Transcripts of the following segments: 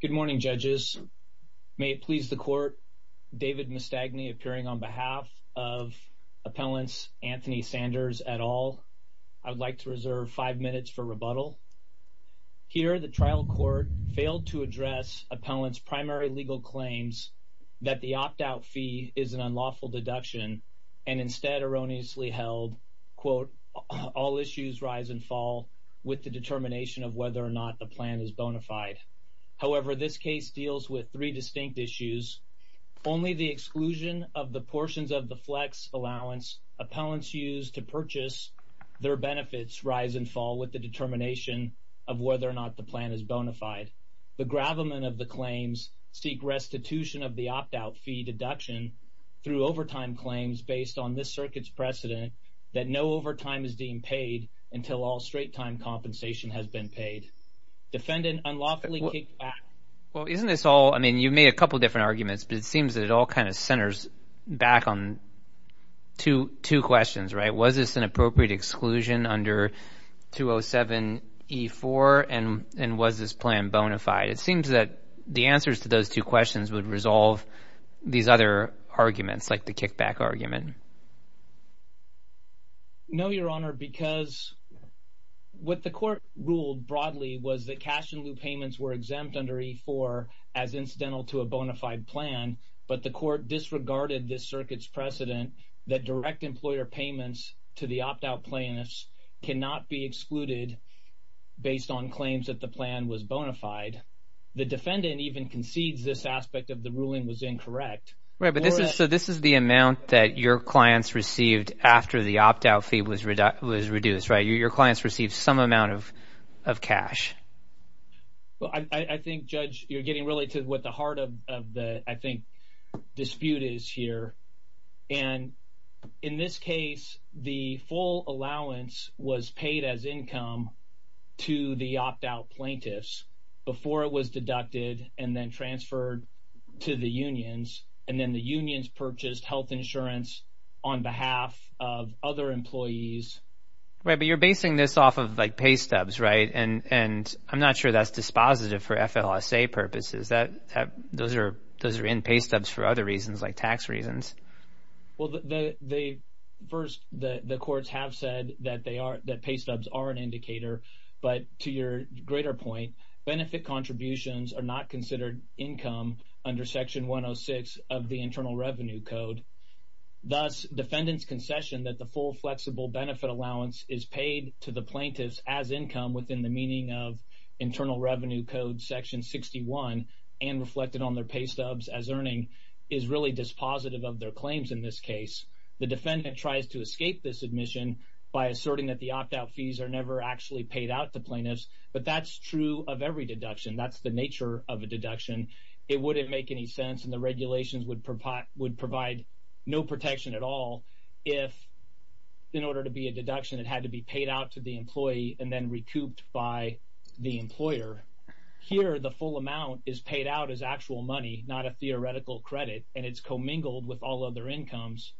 Good morning, Judges. May it please the Court, David Mastagne appearing on behalf of Appellants Anthony Sanders et al. I would like to reserve five minutes for rebuttal. Here, the trial court failed to address Appellants primary legal claims that the opt-out fee is an unlawful deduction and instead erroneously held, quote, all issues rise and fall with the determination of whether or not the plan is bona fide. However, this case deals with three distinct issues. Only the exclusion of the portions of the flex allowance Appellants use to purchase their benefits rise and fall with the determination of whether or not the plan is bona fide. The gravamen of the claims seek restitution of the opt-out fee deduction through overtime claims based on this circuit's precedent that no overtime is deemed paid until all straight-time compensation has been paid. Defendant unlawfully kicked back. Well, isn't this all, I mean, you've made a couple different arguments, but it seems that it all kind of centers back on two questions, right? Was this an appropriate exclusion under 207E4 and was this plan bona fide? It seems that the answers to those two questions would resolve these other arguments like the kickback argument. No, Your Honor, because what the court ruled broadly was that cash-in-lieu payments were exempt under E4 as incidental to a bona fide plan, but the court disregarded this circuit's precedent that direct employer payments to the opt-out plaintiffs cannot be excluded based on claims that the plan was bona fide. The defendant even concedes this aspect of the ruling was after the opt-out fee was reduced, right? Your clients received some amount of cash. Well, I think, Judge, you're getting really to what the heart of the, I think, dispute is here, and in this case, the full allowance was paid as income to the opt-out plaintiffs before it was deducted and then transferred to the unions, and then the unions purchased health insurance, on behalf of other employees. Right, but you're basing this off of like pay stubs, right? And I'm not sure that's dispositive for FLSA purposes. Those are in pay stubs for other reasons like tax reasons. Well, first, the courts have said that pay stubs are an indicator, but to your greater point, benefit contributions are not considered income under Section 106 of the Internal Revenue Code. Thus, defendant's concession that the full flexible benefit allowance is paid to the plaintiffs as income within the meaning of Internal Revenue Code Section 61 and reflected on their pay stubs as earning is really dispositive of their claims in this case. The defendant tries to escape this admission by asserting that the opt-out fees are never actually paid out to plaintiffs, but that's true of every deduction. It wouldn't make any sense, and the regulations would provide no protection at all if, in order to be a deduction, it had to be paid out to the employee and then recouped by the employer. Here, the full amount is paid out as actual money, not a theoretical credit, and it's commingled with all other incomes.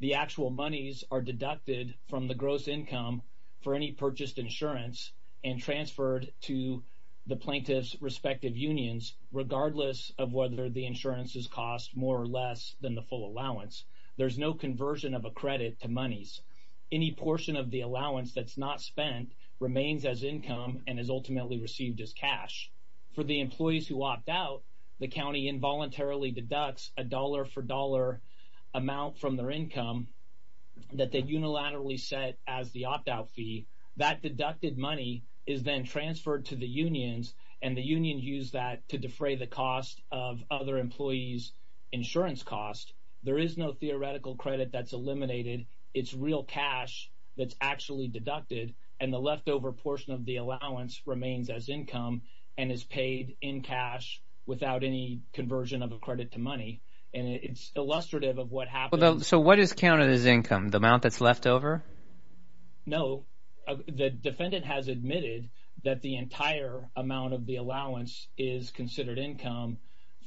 The actual monies are deducted from the gross income for any purchased insurance and transferred to the plaintiff's respective unions, regardless of whether the insurance is cost more or less than the full allowance. There's no conversion of a credit to monies. Any portion of the allowance that's not spent remains as income and is ultimately received as cash. For the employees who opt out, the county involuntarily deducts a dollar amount from their income that they unilaterally set as the opt-out fee. That deducted money is then transferred to the unions, and the unions use that to defray the cost of other employees' insurance costs. There is no theoretical credit that's eliminated. It's real cash that's actually deducted, and the leftover portion of the allowance remains as income and is illustrative of what happened. So what is counted as income? The amount that's left over? No. The defendant has admitted that the entire amount of the allowance is considered income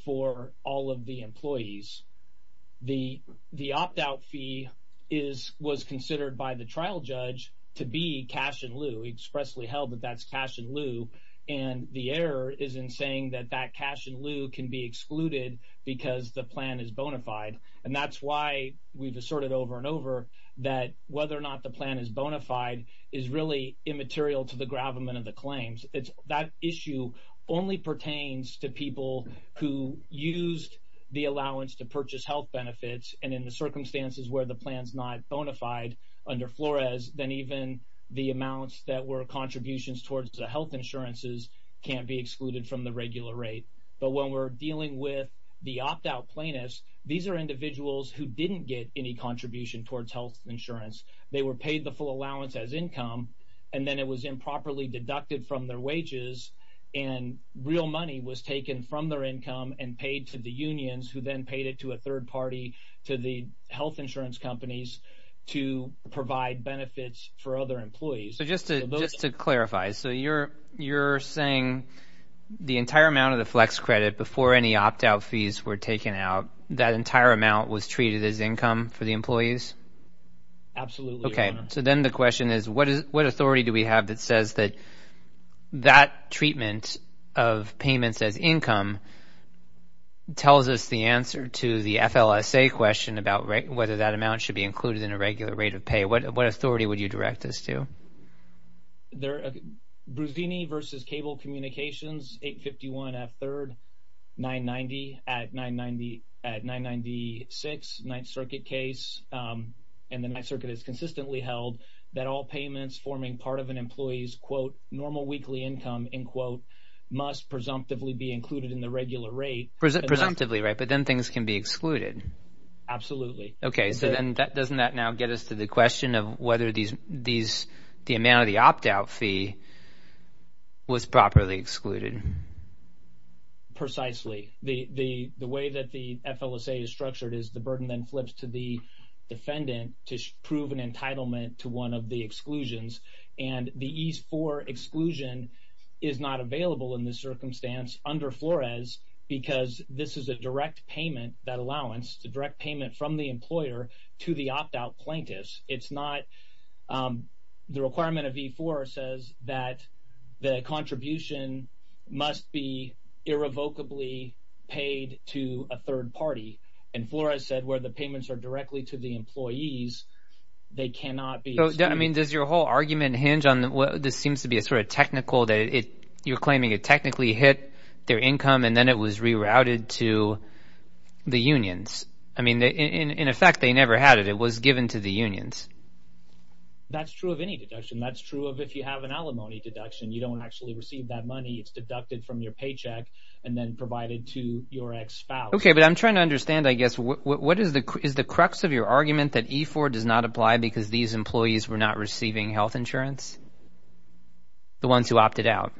for all of the employees. The opt-out fee was considered by the trial judge to be cash in lieu. It's expressly held that that's cash in lieu, and the error is in saying that that cash in That's why we've asserted over and over that whether or not the plan is bona fide is really immaterial to the gravamen of the claims. That issue only pertains to people who used the allowance to purchase health benefits, and in the circumstances where the plan's not bona fide under Flores, then even the amounts that were contributions towards the health insurances can't be excluded from the regular rate. But when we're dealing with the opt-out plaintiffs, these are individuals who didn't get any contribution towards health insurance. They were paid the full allowance as income, and then it was improperly deducted from their wages, and real money was taken from their income and paid to the unions, who then paid it to a third party, to the health insurance companies to provide benefits for other employees. So just to clarify, so you're saying the entire amount of the flex credit before any opt-out fees were taken out, that entire amount was treated as income for the employees? Absolutely. Okay. So then the question is, what authority do we have that says that that treatment of payments as income tells us the answer to the FLSA question about whether that amount should be included in a regular rate of pay? What authority would you direct us to? There are Bruzzini v. Cable Communications, 851 F. 3rd, 990 at 996, Ninth Circuit case, and the Ninth Circuit has consistently held that all payments forming part of an employee's normal weekly income must presumptively be included in the regular rate. Presumptively, right? But then things can be excluded. Absolutely. Okay. So then doesn't that now get us to the question of whether the amount of the opt-out fee was properly excluded? Precisely. The way that the FLSA is structured is the burden then flips to the defendant to prove an entitlement to one of the exclusions, and the E-4 exclusion is not available in this circumstance under Flores because this is a direct payment, that allowance, the direct payment from the employer to the opt-out plaintiff. The requirement of E-4 says that the contribution must be irrevocably paid to a third party, and Flores said where the payments are directly to the employees, they cannot be excluded. Does your whole argument hinge on what this seems to be a sort of technical that you're claiming it technically hit their income and then was rerouted to the unions? I mean, in effect, they never had it. It was given to the unions. That's true of any deduction. That's true of if you have an alimony deduction, you don't actually receive that money. It's deducted from your paycheck and then provided to your ex-spouse. Okay. But I'm trying to understand, I guess, what is the crux of your argument that E-4 does not apply because these employees were not receiving health insurance? The ones who opted out?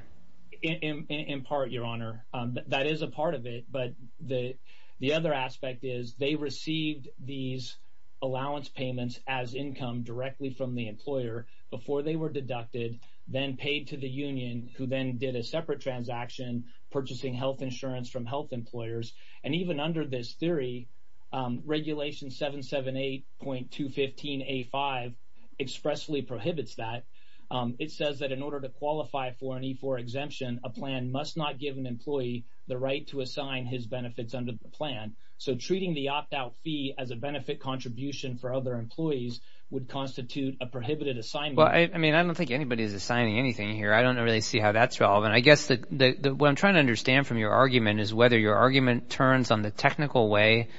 In part, Your Honor, that is a part of it. But the other aspect is they received these allowance payments as income directly from the employer before they were deducted, then paid to the union, who then did a separate transaction purchasing health insurance from health employers. And even under this theory, Regulation 778.215A5 expressly prohibits that. It says that in order to qualify for an E-4 exemption, a plan must not give an employee the right to assign his benefits under the plan. So treating the opt-out fee as a benefit contribution for other employees would constitute a prohibited assignment. Well, I mean, I don't think anybody is assigning anything here. I don't really see how that's relevant. I guess what I'm trying to understand from your argument is whether your argument turns on the technical way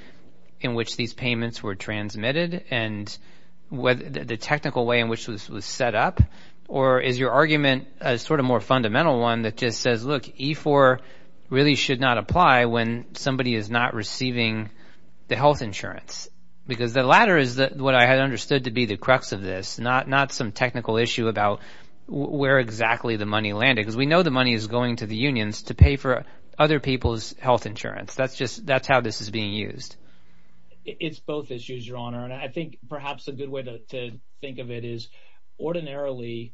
in which these payments were transmitted and the technical way in which this was set up. Or is your argument a sort of more fundamental one that just says, look, E-4 really should not apply when somebody is not receiving the health insurance? Because the latter is what I had understood to be the crux of this, not some technical issue about where exactly the money landed. Because we know the money is going to the unions to pay for other people's health insurance. That's just that's how this is being used. It's both issues, Your Honor. And I think perhaps a good way to think of it is ordinarily,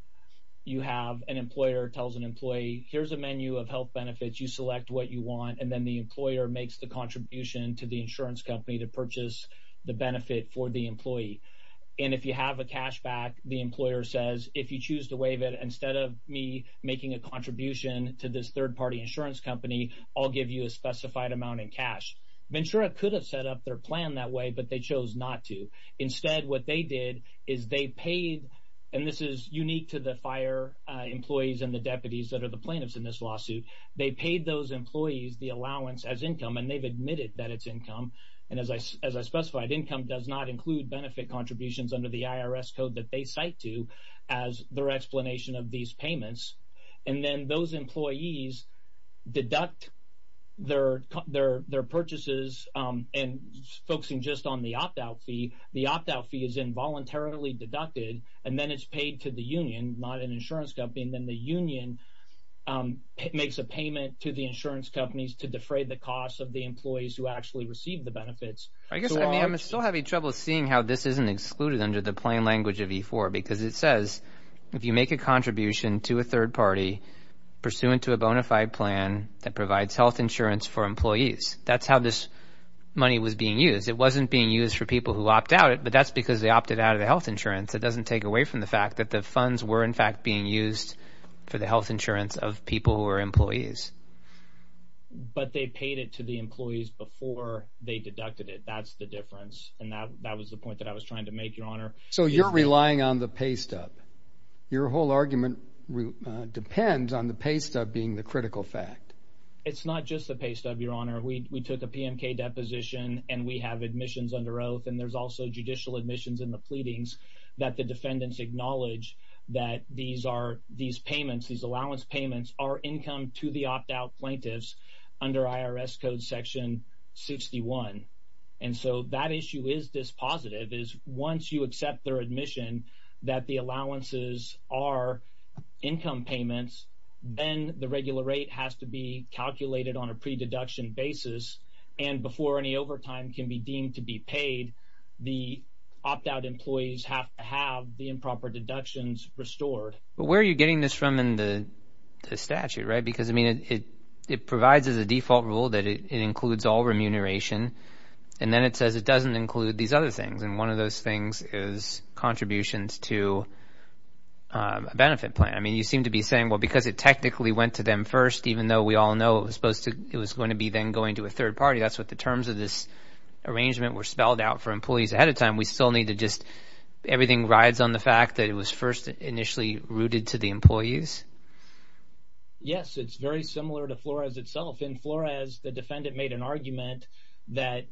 you have an employer tells an employee, here's a menu of health benefits. You select what you want. And then the employer makes the contribution to the insurance company to purchase the benefit for the employee. And if you have a cash back, the employer says, if you choose to waive it, instead of me making a contribution to this third-party insurance company, I'll give you a specified amount in cash. Ventura could have set up their plan that way, but they chose not to. Instead, what they did is they paid, and this is unique to the FHIR employees and the deputies that are the plaintiffs in this lawsuit. They paid those employees the allowance as income, and they've admitted that it's income. And as I specified, income does not include benefit contributions under the IRS code that they cite to as their explanation of these payments. And then those employees deduct their purchases. And focusing just on the opt-out fee, the opt-out fee is involuntarily deducted, and then it's paid to the union, not an insurance company. And then the union makes a payment to the insurance companies to defray the cost of the employees who actually receive the benefits. I guess I'm still having trouble seeing how this isn't excluded under the plan that provides health insurance for employees. That's how this money was being used. It wasn't being used for people who opt out, but that's because they opted out of the health insurance. It doesn't take away from the fact that the funds were, in fact, being used for the health insurance of people who are employees. But they paid it to the employees before they deducted it. That's the difference, and that was the point that I was trying to make, Your Honor. So you're relying on the pay stub being the critical fact. It's not just the pay stub, Your Honor. We took a PMK deposition, and we have admissions under oath, and there's also judicial admissions in the pleadings that the defendants acknowledge that these payments, these allowance payments, are income to the opt-out plaintiffs under IRS Code Section 61. And so that issue is dispositive, is once you are paying these payments are income payments, then the regular rate has to be calculated on a pre-deduction basis, and before any overtime can be deemed to be paid, the opt-out employees have to have the improper deductions restored. But where are you getting this from in the statute, right? Because, I mean, it provides as a default rule that it includes all remuneration, and then it says it doesn't include these other things, and one of those things is contributions to a benefit plan. I mean, you seem to be saying, well, because it technically went to them first, even though we all know it was supposed to, it was going to be then going to a third party, that's what the terms of this arrangement were spelled out for employees ahead of time, we still need to just, everything rides on the fact that it was first initially rooted to the employees? Yes, it's very similar to Flores itself. In Flores, the defendant made an argument that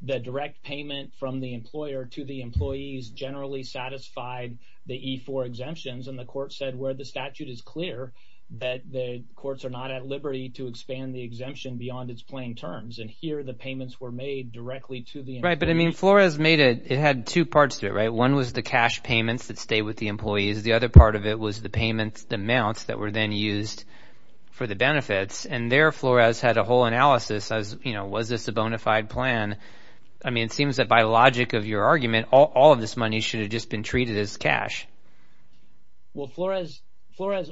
the direct payment from the employer to the employees generally satisfied the E-4 exemptions, and the court said where the statute is clear that the courts are not at liberty to expand the exemption beyond its plain terms, and here the payments were made directly to the employees. Right, but, I mean, Flores made it, it had two parts to it, right? One was the cash payments that stayed with the employees, the other part of it was the payments, the amounts that were then used for the benefits, and there Flores had a whole analysis as, you know, was this a bona fide plan? I mean, it seems that by logic of your argument, all of this money should have just been treated as cash. Well, Flores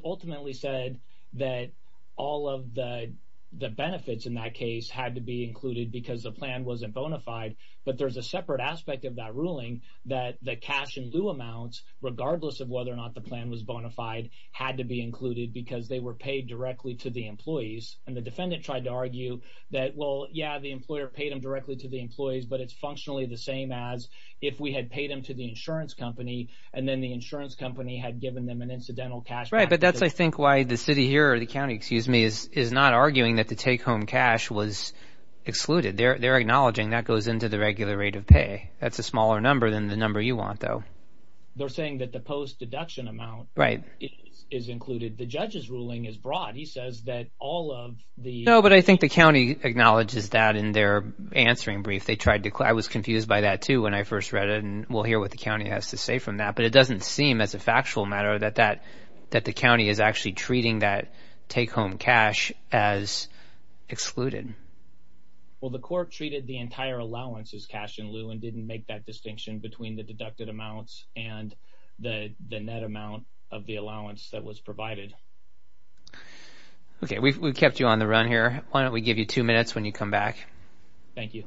ultimately said that all of the benefits in that case had to be included because the plan wasn't bona fide, but there's a separate aspect of that ruling that the cash in lieu amounts, regardless of whether or not the plan was bona fide, had to be included because they were paid directly to the employees, and the defendant tried to argue that, well, yeah, the employer paid them directly to the employees, but it's functionally the same as if we had paid them to the insurance company, and then the insurance company had given them an incidental cash back. Right, but that's, I think, why the city here, or the county, excuse me, is not arguing that the take-home cash was excluded. They're acknowledging that goes into the regular rate of pay. That's a smaller number than the number you want, though. They're saying that the post is broad. He says that all of the... No, but I think the county acknowledges that in their answering brief. They tried to... I was confused by that, too, when I first read it, and we'll hear what the county has to say from that, but it doesn't seem, as a factual matter, that the county is actually treating that take-home cash as excluded. Well, the court treated the entire allowance as cash in lieu and didn't make that distinction between the deducted amounts and the net amount of the allowance that was provided. Okay, we've kept you on the run here. Why don't we give you two minutes when you come back? Thank you.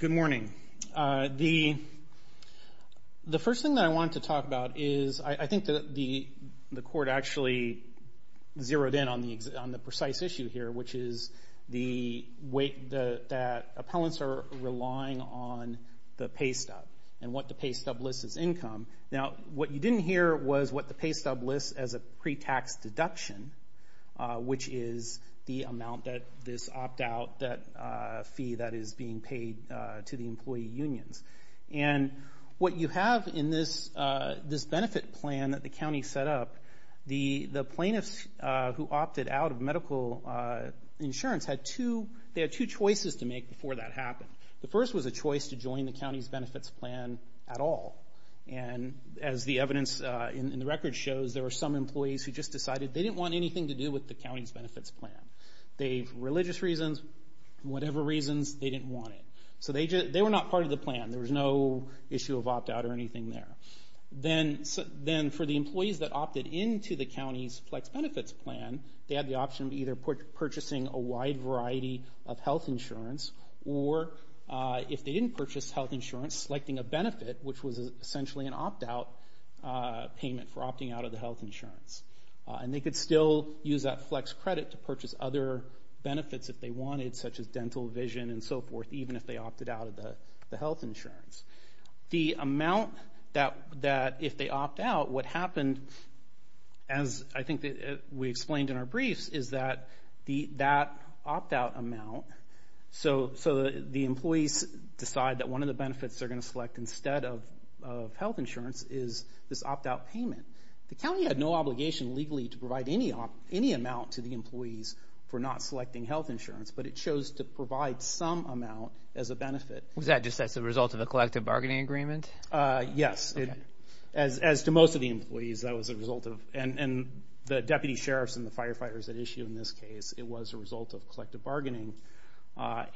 Good morning. The first thing that I want to talk about is, I think that the court actually zeroed in on the precise issue here, which is that appellants are relying on the pay stub and what the pay stub lists as income. Now, what you didn't hear was what the pay stub lists as a pre-tax deduction, which is the amount that this opt-out fee that is being paid to the employee who opted out of medical insurance. They had two choices to make before that happened. The first was a choice to join the county's benefits plan at all. As the evidence in the record shows, there were some employees who just decided they didn't want anything to do with the county's benefits plan. Religious reasons, whatever reasons, they didn't want it. They were not part of the plan. There was no issue of opt-out or anything there. Then, for the employees that benefits plan, they had the option of either purchasing a wide variety of health insurance, or if they didn't purchase health insurance, selecting a benefit, which was essentially an opt-out payment for opting out of the health insurance. They could still use that flex credit to purchase other benefits if they wanted, such as dental, vision, and so forth, even if they explained in our briefs is that opt-out amount, so the employees decide that one of the benefits they're going to select instead of health insurance is this opt-out payment. The county had no obligation legally to provide any amount to the employees for not selecting health insurance, but it chose to provide some amount as a benefit. Was that just as a result of a collective bargaining agreement? Yes. As to most of the employees, that was a result of, and the deputy sheriffs and the firefighters that issue in this case, it was a result of collective bargaining.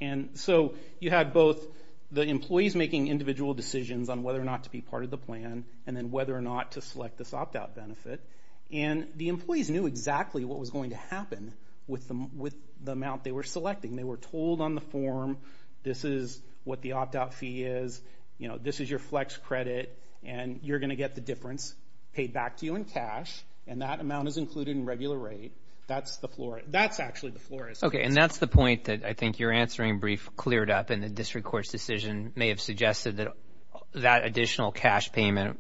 You had both the employees making individual decisions on whether or not to be part of the plan, and then whether or not to select this opt-out benefit. The employees knew exactly what was going to happen with the amount they were selecting. They were told on the form, this is what the opt-out fee is, this is your flex credit, and you're going to get the difference paid back to you in cash, and that amount is included in regular rate. That's actually the floor. Okay, and that's the point that I think your answering brief cleared up, and the district court's decision may have suggested that that additional cash payment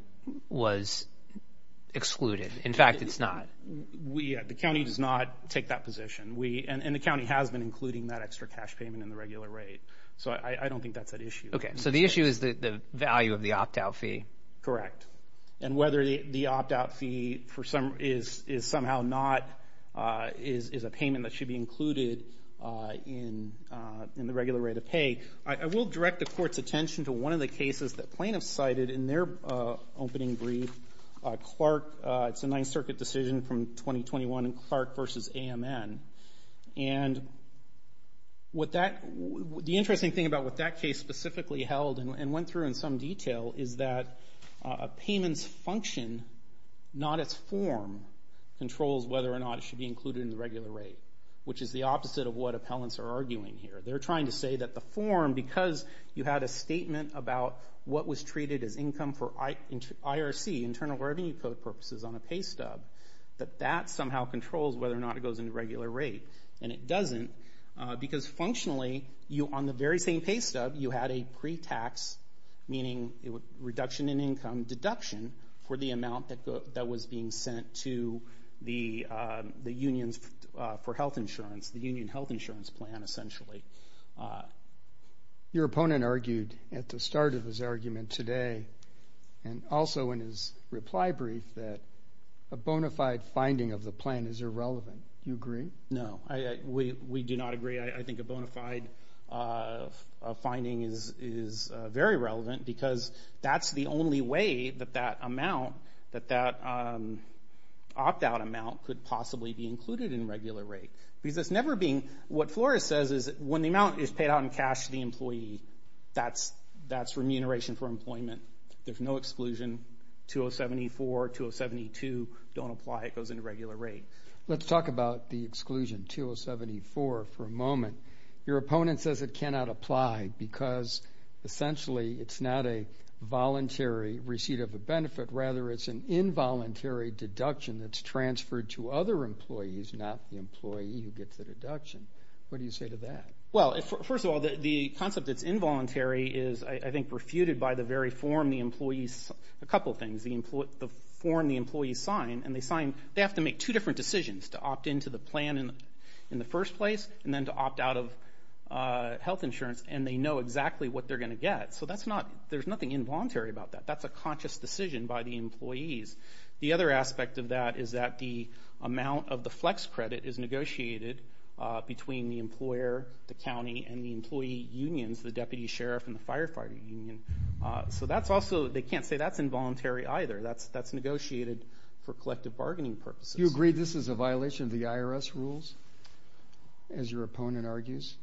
was excluded. In fact, it's not. The county does not take that position, and the county has been including that extra cash payment in the regular rate, so I don't think that's an issue. Okay, so the issue is the value of the opt-out fee. Correct, and whether the opt-out fee is somehow not, is a payment that should be included in the regular rate of pay. I will direct the court's attention to one of the cases that plaintiffs cited in their opening brief, Clark, it's a 9th Circuit decision from the 1990s. The interesting thing about what that case specifically held and went through in some detail is that a payment's function, not its form, controls whether or not it should be included in the regular rate, which is the opposite of what appellants are arguing here. They're trying to say that the form, because you had a statement about what was treated as income for IRC, Internal Revenue Code purposes, on a pay stub, that that somehow controls whether or not it should be included in the regular rate, and it doesn't, because functionally, on the very same pay stub, you had a pre-tax, meaning reduction in income, deduction for the amount that was being sent to the unions for health insurance, the union health insurance plan, essentially. Your opponent argued at the start of his argument today, and also in his reply brief, that a bona fide finding of the plan is irrelevant. Do you agree? No, we do not agree. I think a bona fide finding is very relevant, because that's the only way that that amount, that that opt-out amount, could possibly be included in regular rate, because that's never being, what Flores says is, when the amount is paid out in cash to the employer, it goes into regular rate. Let's talk about the exclusion, 2074, for a moment. Your opponent says it cannot apply, because essentially, it's not a voluntary receipt of a benefit. Rather, it's an involuntary deduction that's transferred to other employees, not the employee who gets the deduction. What do you say to that? Well, first of all, the concept that's involuntary is, I think, refuted by the very form the employees sign. They have to make two different decisions, to opt into the plan in the first place, and then to opt out of health insurance, and they know exactly what they're going to get. There's nothing involuntary about that. That's a conscious decision by the employees. The other aspect of that is that the amount of the flex credit is negotiated between the employer, the county, and the employee unions, the deputy sheriff and the firefighter union. So that's also, they can't say that's involuntary either. That's negotiated for collective bargaining purposes. You agree this is a violation of the IRS rules, as your opponent argues?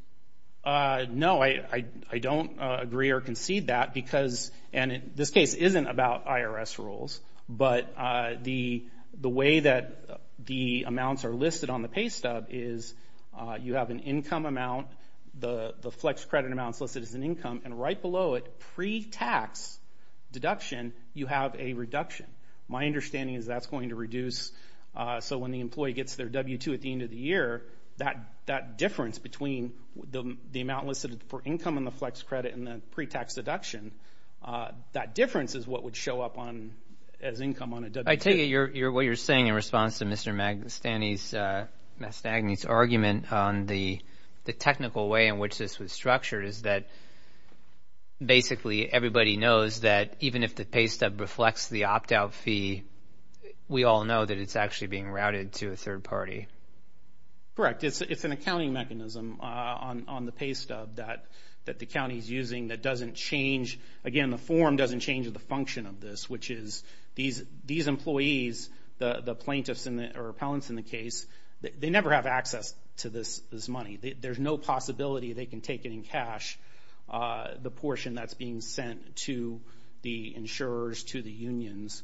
No, I don't agree or concede that, because, and this case isn't about IRS rules, but the way that the amounts are listed on the pay stub is, you have an income amount, the flex credit amounts listed as an income, and right below it, pre-tax deduction, you have a reduction. My understanding is that's going to reduce, so when the employee gets their W-2 at the end of the year, that difference between the amount listed for income on the flex credit and the pre-tax deduction, that difference is what would show up as income on a W-2. I take it what you're saying in response to Mr. Mastagni's argument on the technical way in which this was structured is that basically everybody knows that even if the pay stub reflects the opt-out fee, we all know that it's actually being routed to a third party. Correct. It's an accounting mechanism on the pay stub that the county's using that doesn't change, again, the form doesn't change the function of this, which is these employees, the plaintiffs or appellants in the case, they never have access to this money. There's no possibility they can take it in cash, the portion that's being sent to the insurers, to the unions.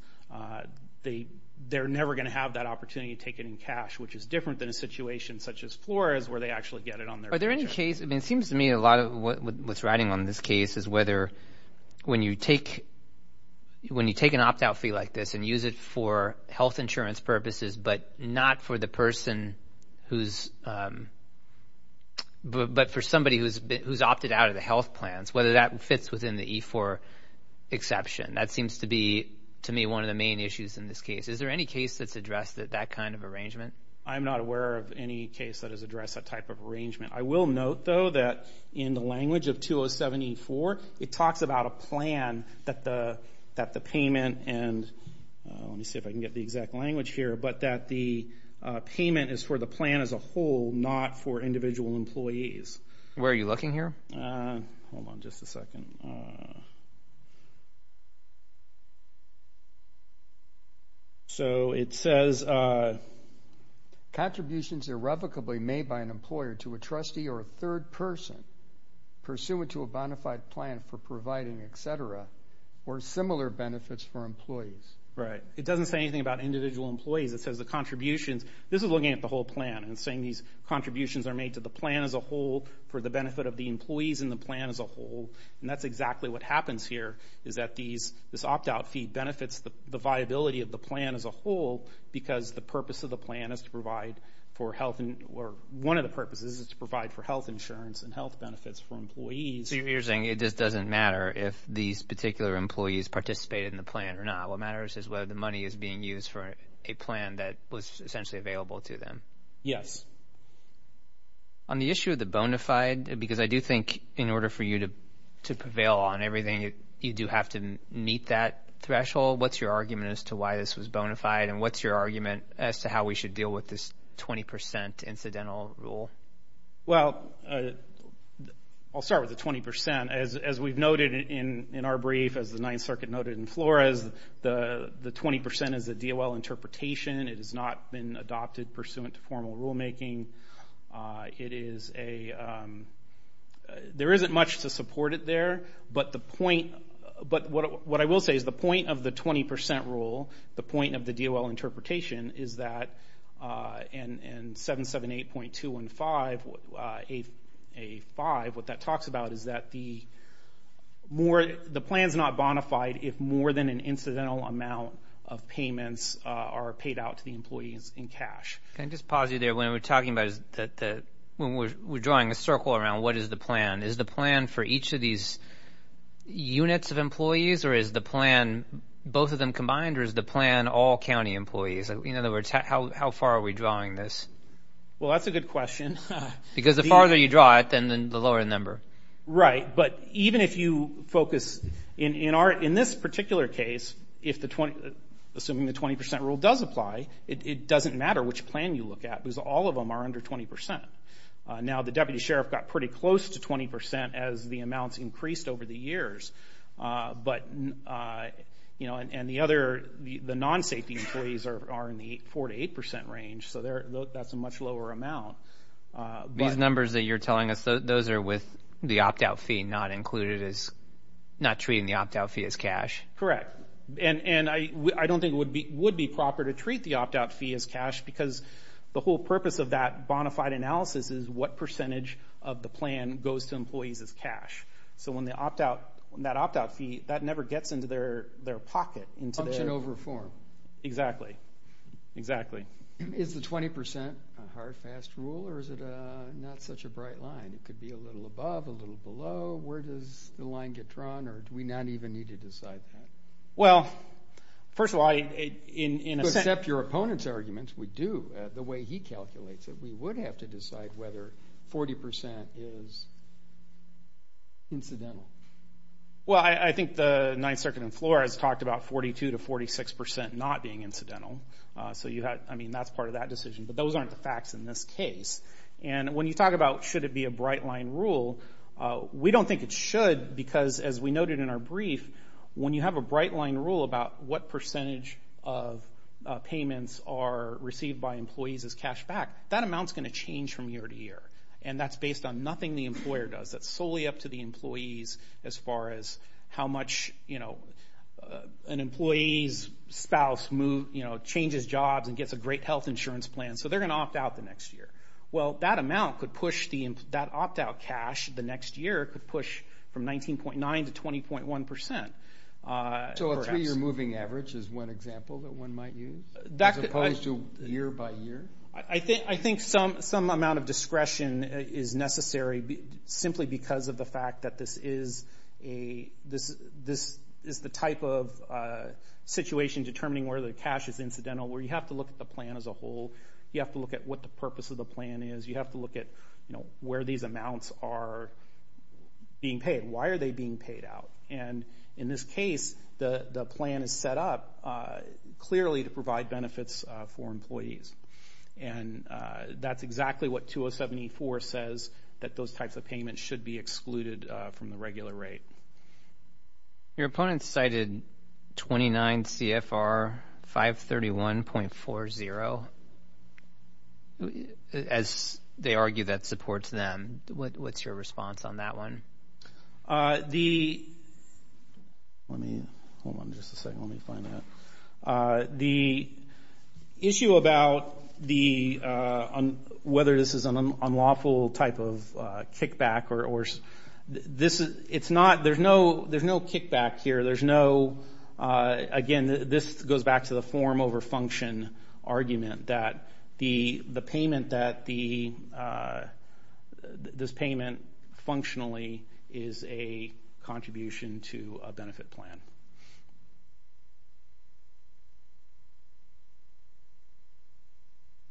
They're never going to have that opportunity to take it in cash, which is different than a situation such as Flores where they actually get it on their paycheck. Are there any cases, I mean, it seems to me a lot of what's riding on this case is whether when you take an opt-out fee like this and use it for health insurance purposes, but not for the person who's, but for somebody who's opted out of the health plans, whether that fits within the E-4 exception. That seems to be, to me, one of the main issues in this case. Is there any case that's addressed that that kind of arrangement? I'm not aware of any case that has addressed that type of arrangement. I will note, though, that in the language of 207 E-4, it talks about a plan that the payment and, let me see if I can get the exact language here, but that the payment is for the plan as a whole, not for individual employees. Where are you looking here? Hold on just a second. So it says contributions irrevocably made by an employer to a trustee or a third person pursuant to a bonafide plan for providing, etc., or similar benefits for employees. Right. It doesn't say anything about individual employees. It says the contributions. This is looking at the whole plan and saying these contributions are made to the plan as a whole for the benefit of the employees in the plan as a whole. And that's exactly what happens here, is that these, this opt-out fee benefits the viability of the plan as a whole because the purpose of the plan is to provide for health, or one of the purposes is to provide for health insurance and health benefits for employees. So you're saying it just doesn't matter if these particular employees participated in the plan or not. What matters is whether the money is being used for a plan that was essentially available to them. Yes. On the issue of the bonafide, because I do think in order for you to prevail on everything, you do have to meet that threshold. What's your argument as to why this was bonafide? And what's your argument as to how we should deal with this 20% incidental rule? Well, I'll start with the 20%. As we've noted in our brief, as the interpretation, it has not been adopted pursuant to formal rulemaking. It is a, there isn't much to support it there, but the point, but what I will say is the point of the 20% rule, the point of the DOL interpretation, is that in 778.215A5, what that talks about is that the more, the plan's not bonafide if more than an incidental amount of payments are paid out to the employees in cash. Can I just pause you there? When we're talking about, when we're drawing a circle around what is the plan, is the plan for each of these units of employees, or is the plan both of them combined, or is the plan all county employees? In other words, how far are we drawing this? Well, that's a good question. Because the farther you draw it, then the lower the number. Right, but even if you focus, in our, in this particular case, if the 20, assuming the 20% rule does apply, it doesn't matter which plan you look at, because all of them are under 20%. Now, the deputy sheriff got pretty close to 20% as the amounts increased over the years, but, you know, and the other, the non-safety employees are in the four to eight percent range, so they're, that's a much lower amount. These numbers that you're telling us, those are with the opt-out fee not included as, not treating the opt-out fee as cash? Correct. And, and I, I don't think it would be, would be proper to treat the opt-out fee as cash, because the whole purpose of that bonafide analysis is what percentage of the plan goes to employees as cash. So when the opt-out, that opt-out fee, that never gets into their, their pocket. Function over form. Exactly, exactly. Is the 20% a hard, fast rule, or is it a, not such a bright line? It could be a little above, a little below, where does the line get drawn, or do we not even need to decide that? Well, first of all, I, in, in a sense. You accept your opponent's arguments, we do, the way he calculates it. We would have to decide whether 40% is incidental. Well, I, I think the Ninth Circuit and floor has talked about 42 to 46% not being incidental, so you had, I mean, that's part of that decision, but those aren't the facts in this case. And when you talk about should it be a bright line rule, we don't think it should, because as we noted in our brief, when you have a bright line rule about what percentage of payments are received by employees as cash back, that amount's going to change from year to year, and that's based on nothing the employer does. That's solely up to the employees as far as how much, you know, an employee's spouse move, you know, changes jobs and gets a great health insurance plan, so they're going to opt out the next year. Well, that amount could push the, that opt-out cash the next year could push from 19.9 to 20.1%, perhaps. So a three-year moving average is one example that one might use, as opposed to year by year? I think, I think some, some amount of discretion is necessary simply because of the fact that this is a, this, this is the type of situation determining whether the cash is incidental, where you have to look at the as a whole, you have to look at what the purpose of the plan is, you have to look at, you know, where these amounts are being paid. Why are they being paid out? And in this case, the, the plan is set up clearly to provide benefits for employees, and that's exactly what 2074 says, that those types of payments should be excluded from the regular rate. Your opponent cited 29 CFR 531.40, as they argue that supports them. What's your response on that one? The, let me, hold on just a second, let me find that. The issue about the, whether this is unlawful type of kickback or, or this is, it's not, there's no, there's no kickback here, there's no, again, this goes back to the form over function argument that the, the payment that the, this payment functionally is a contribution to a benefit plan.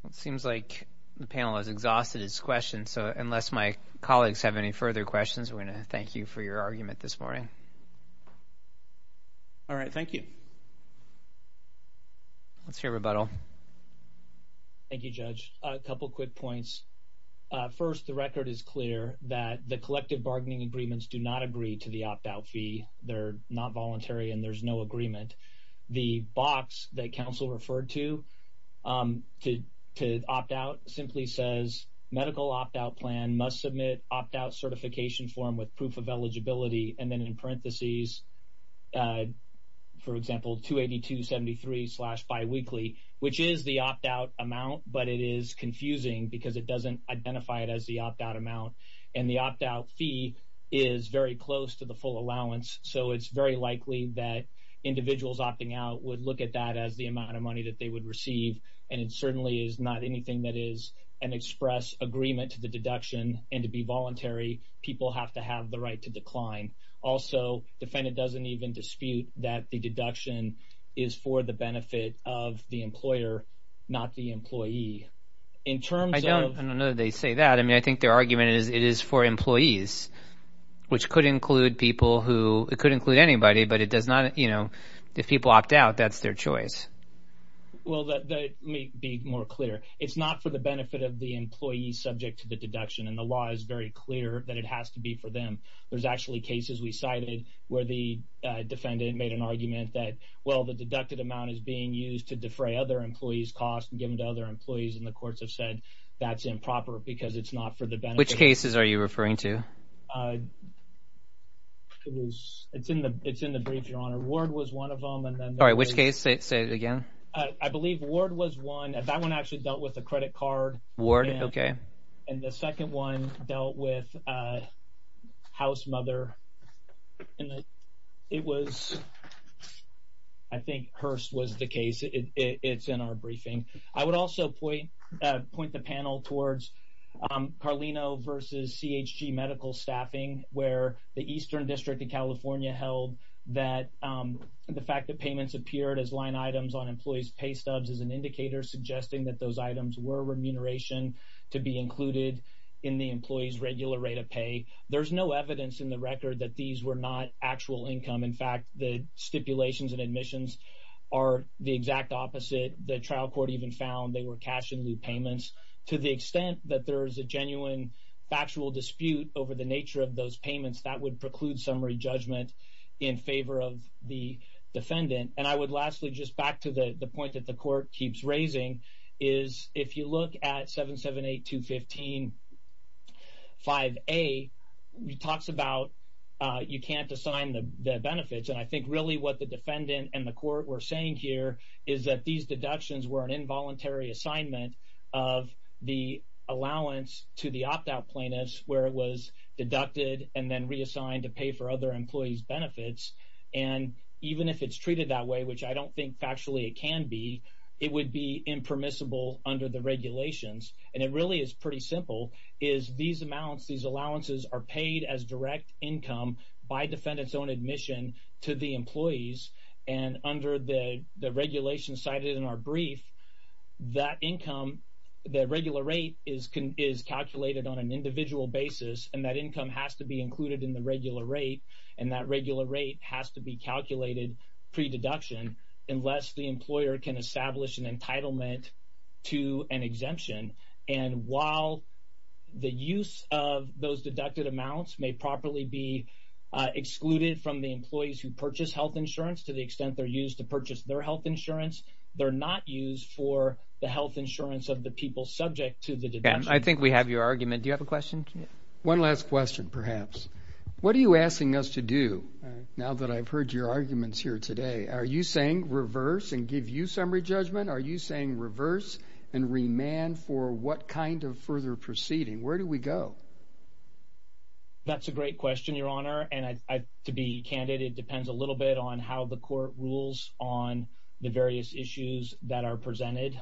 It seems like the panel has exhausted his question, so unless my colleagues have any further questions, we're going to thank you for your argument this morning. All right, thank you. Let's hear rebuttal. Thank you, Judge. A couple quick points. First, the record is clear that the collective bargaining agreements do not agree to the opt-out and there's no agreement. The box that council referred to, to, to opt-out simply says, medical opt-out plan must submit opt-out certification form with proof of eligibility, and then in parentheses, for example, 282.73 slash bi-weekly, which is the opt-out amount, but it is confusing because it doesn't identify it as the opt-out amount, and the opt-out fee is very close to the full allowance, so it's very likely that individuals opting out would look at that as the amount of money that they would receive, and it certainly is not anything that is an express agreement to the deduction, and to be voluntary, people have to have the right to decline. Also, defendant doesn't even dispute that the deduction is for the benefit of the employer, not the employee. In terms of— I don't know that they say that. I mean, their argument is it is for employees, which could include people who—it could include anybody, but it does not—you know, if people opt-out, that's their choice. Well, let me be more clear. It's not for the benefit of the employee subject to the deduction, and the law is very clear that it has to be for them. There's actually cases we cited where the defendant made an argument that, well, the deducted amount is being used to defray other employees' costs and give them to other employees, and the courts have said that's improper because it's not for the benefit— Which cases are you referring to? It was—it's in the brief, Your Honor. Ward was one of them, and then— All right, which case? Say it again. I believe Ward was one. That one actually dealt with a credit card. Ward? Okay. And the second one dealt with a house mother, and it was—I think Hearst was the case. It's in our briefing. I would also point the panel towards Carlino versus CHG medical staffing, where the Eastern District of California held that the fact that payments appeared as line items on employees' pay stubs is an indicator suggesting that those items were remuneration to be included in the employee's regular rate of pay. There's no evidence in the record that these were not actual income. In fact, the stipulations and admissions are the exact opposite. The trial court even found they were cash-in-lieu payments. To the extent that there is a genuine factual dispute over the nature of those payments, that would preclude summary judgment in favor of the defendant. And I would lastly, just back to the point that the court keeps raising, is if you look at 778-215-5A, it talks about you can't assign the benefits, and I think really what the defendant and the court were saying here is that these deductions were an involuntary assignment of the allowance to the opt-out plaintiffs where it was deducted and then reassigned to pay for other employees' benefits. And even if it's treated that way, which I don't think factually it can be, it would be impermissible under the regulations. And it really is pretty simple, is these amounts, these allowances are paid as direct income by defendant's own admission to the employees. And under the regulations cited in our brief, that income, that regular rate is calculated on an individual basis, and that income has to be included in the regular rate, and that regular rate has to be calculated pre-deduction unless the employer can establish an entitlement to an exemption. And while the use of those deducted amounts may properly be excluded from the employees who purchase health insurance to the extent they're used to purchase their health insurance, they're not used for the health insurance of the people subject to the deductions. I think we have your argument. Do you have a question? One last question, perhaps. What are you asking us to do now that I've heard your arguments here today? Are you saying reverse and give you summary judgment? Are you saying reverse and remand for what kind of further proceeding? Where do we go? That's a great question, Your Honor. And to be candid, it depends a little bit on how the court rules on the various issues that are presented.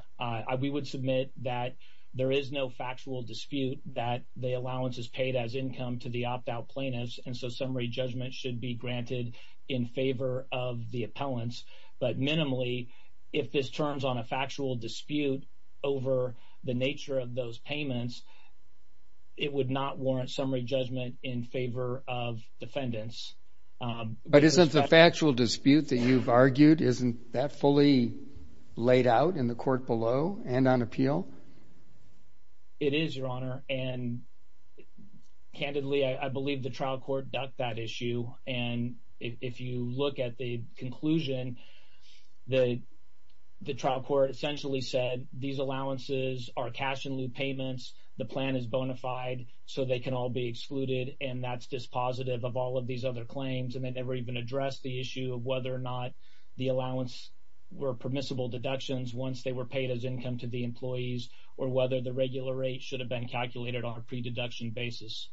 We would submit that there is no factual dispute that the allowance is paid as income to the opt-out plaintiffs, and so summary judgment should be granted in favor of the appellants. But minimally, if this turns on a factual dispute over the nature of those payments, it would not warrant summary judgment in favor of defendants. But isn't the factual dispute that you've argued, isn't that fully laid out in the court below and on appeal? It is, Your Honor. And candidly, I believe the trial court ducked that issue. And if you look at the conclusion, the trial court essentially said these allowances are cash-in-lieu payments. The plan is bona fide, so they can all be excluded. And that's dispositive of all of these other claims. And they never even addressed the issue of whether or not the allowance were income to the employees or whether the regular rate should have been calculated on a pre-deduction basis.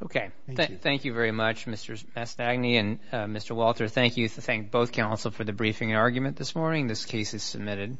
Okay. Thank you very much, Mr. Mastagni and Mr. Walter. Thank you. Thank both counsel for the briefing and argument this morning. This case is submitted.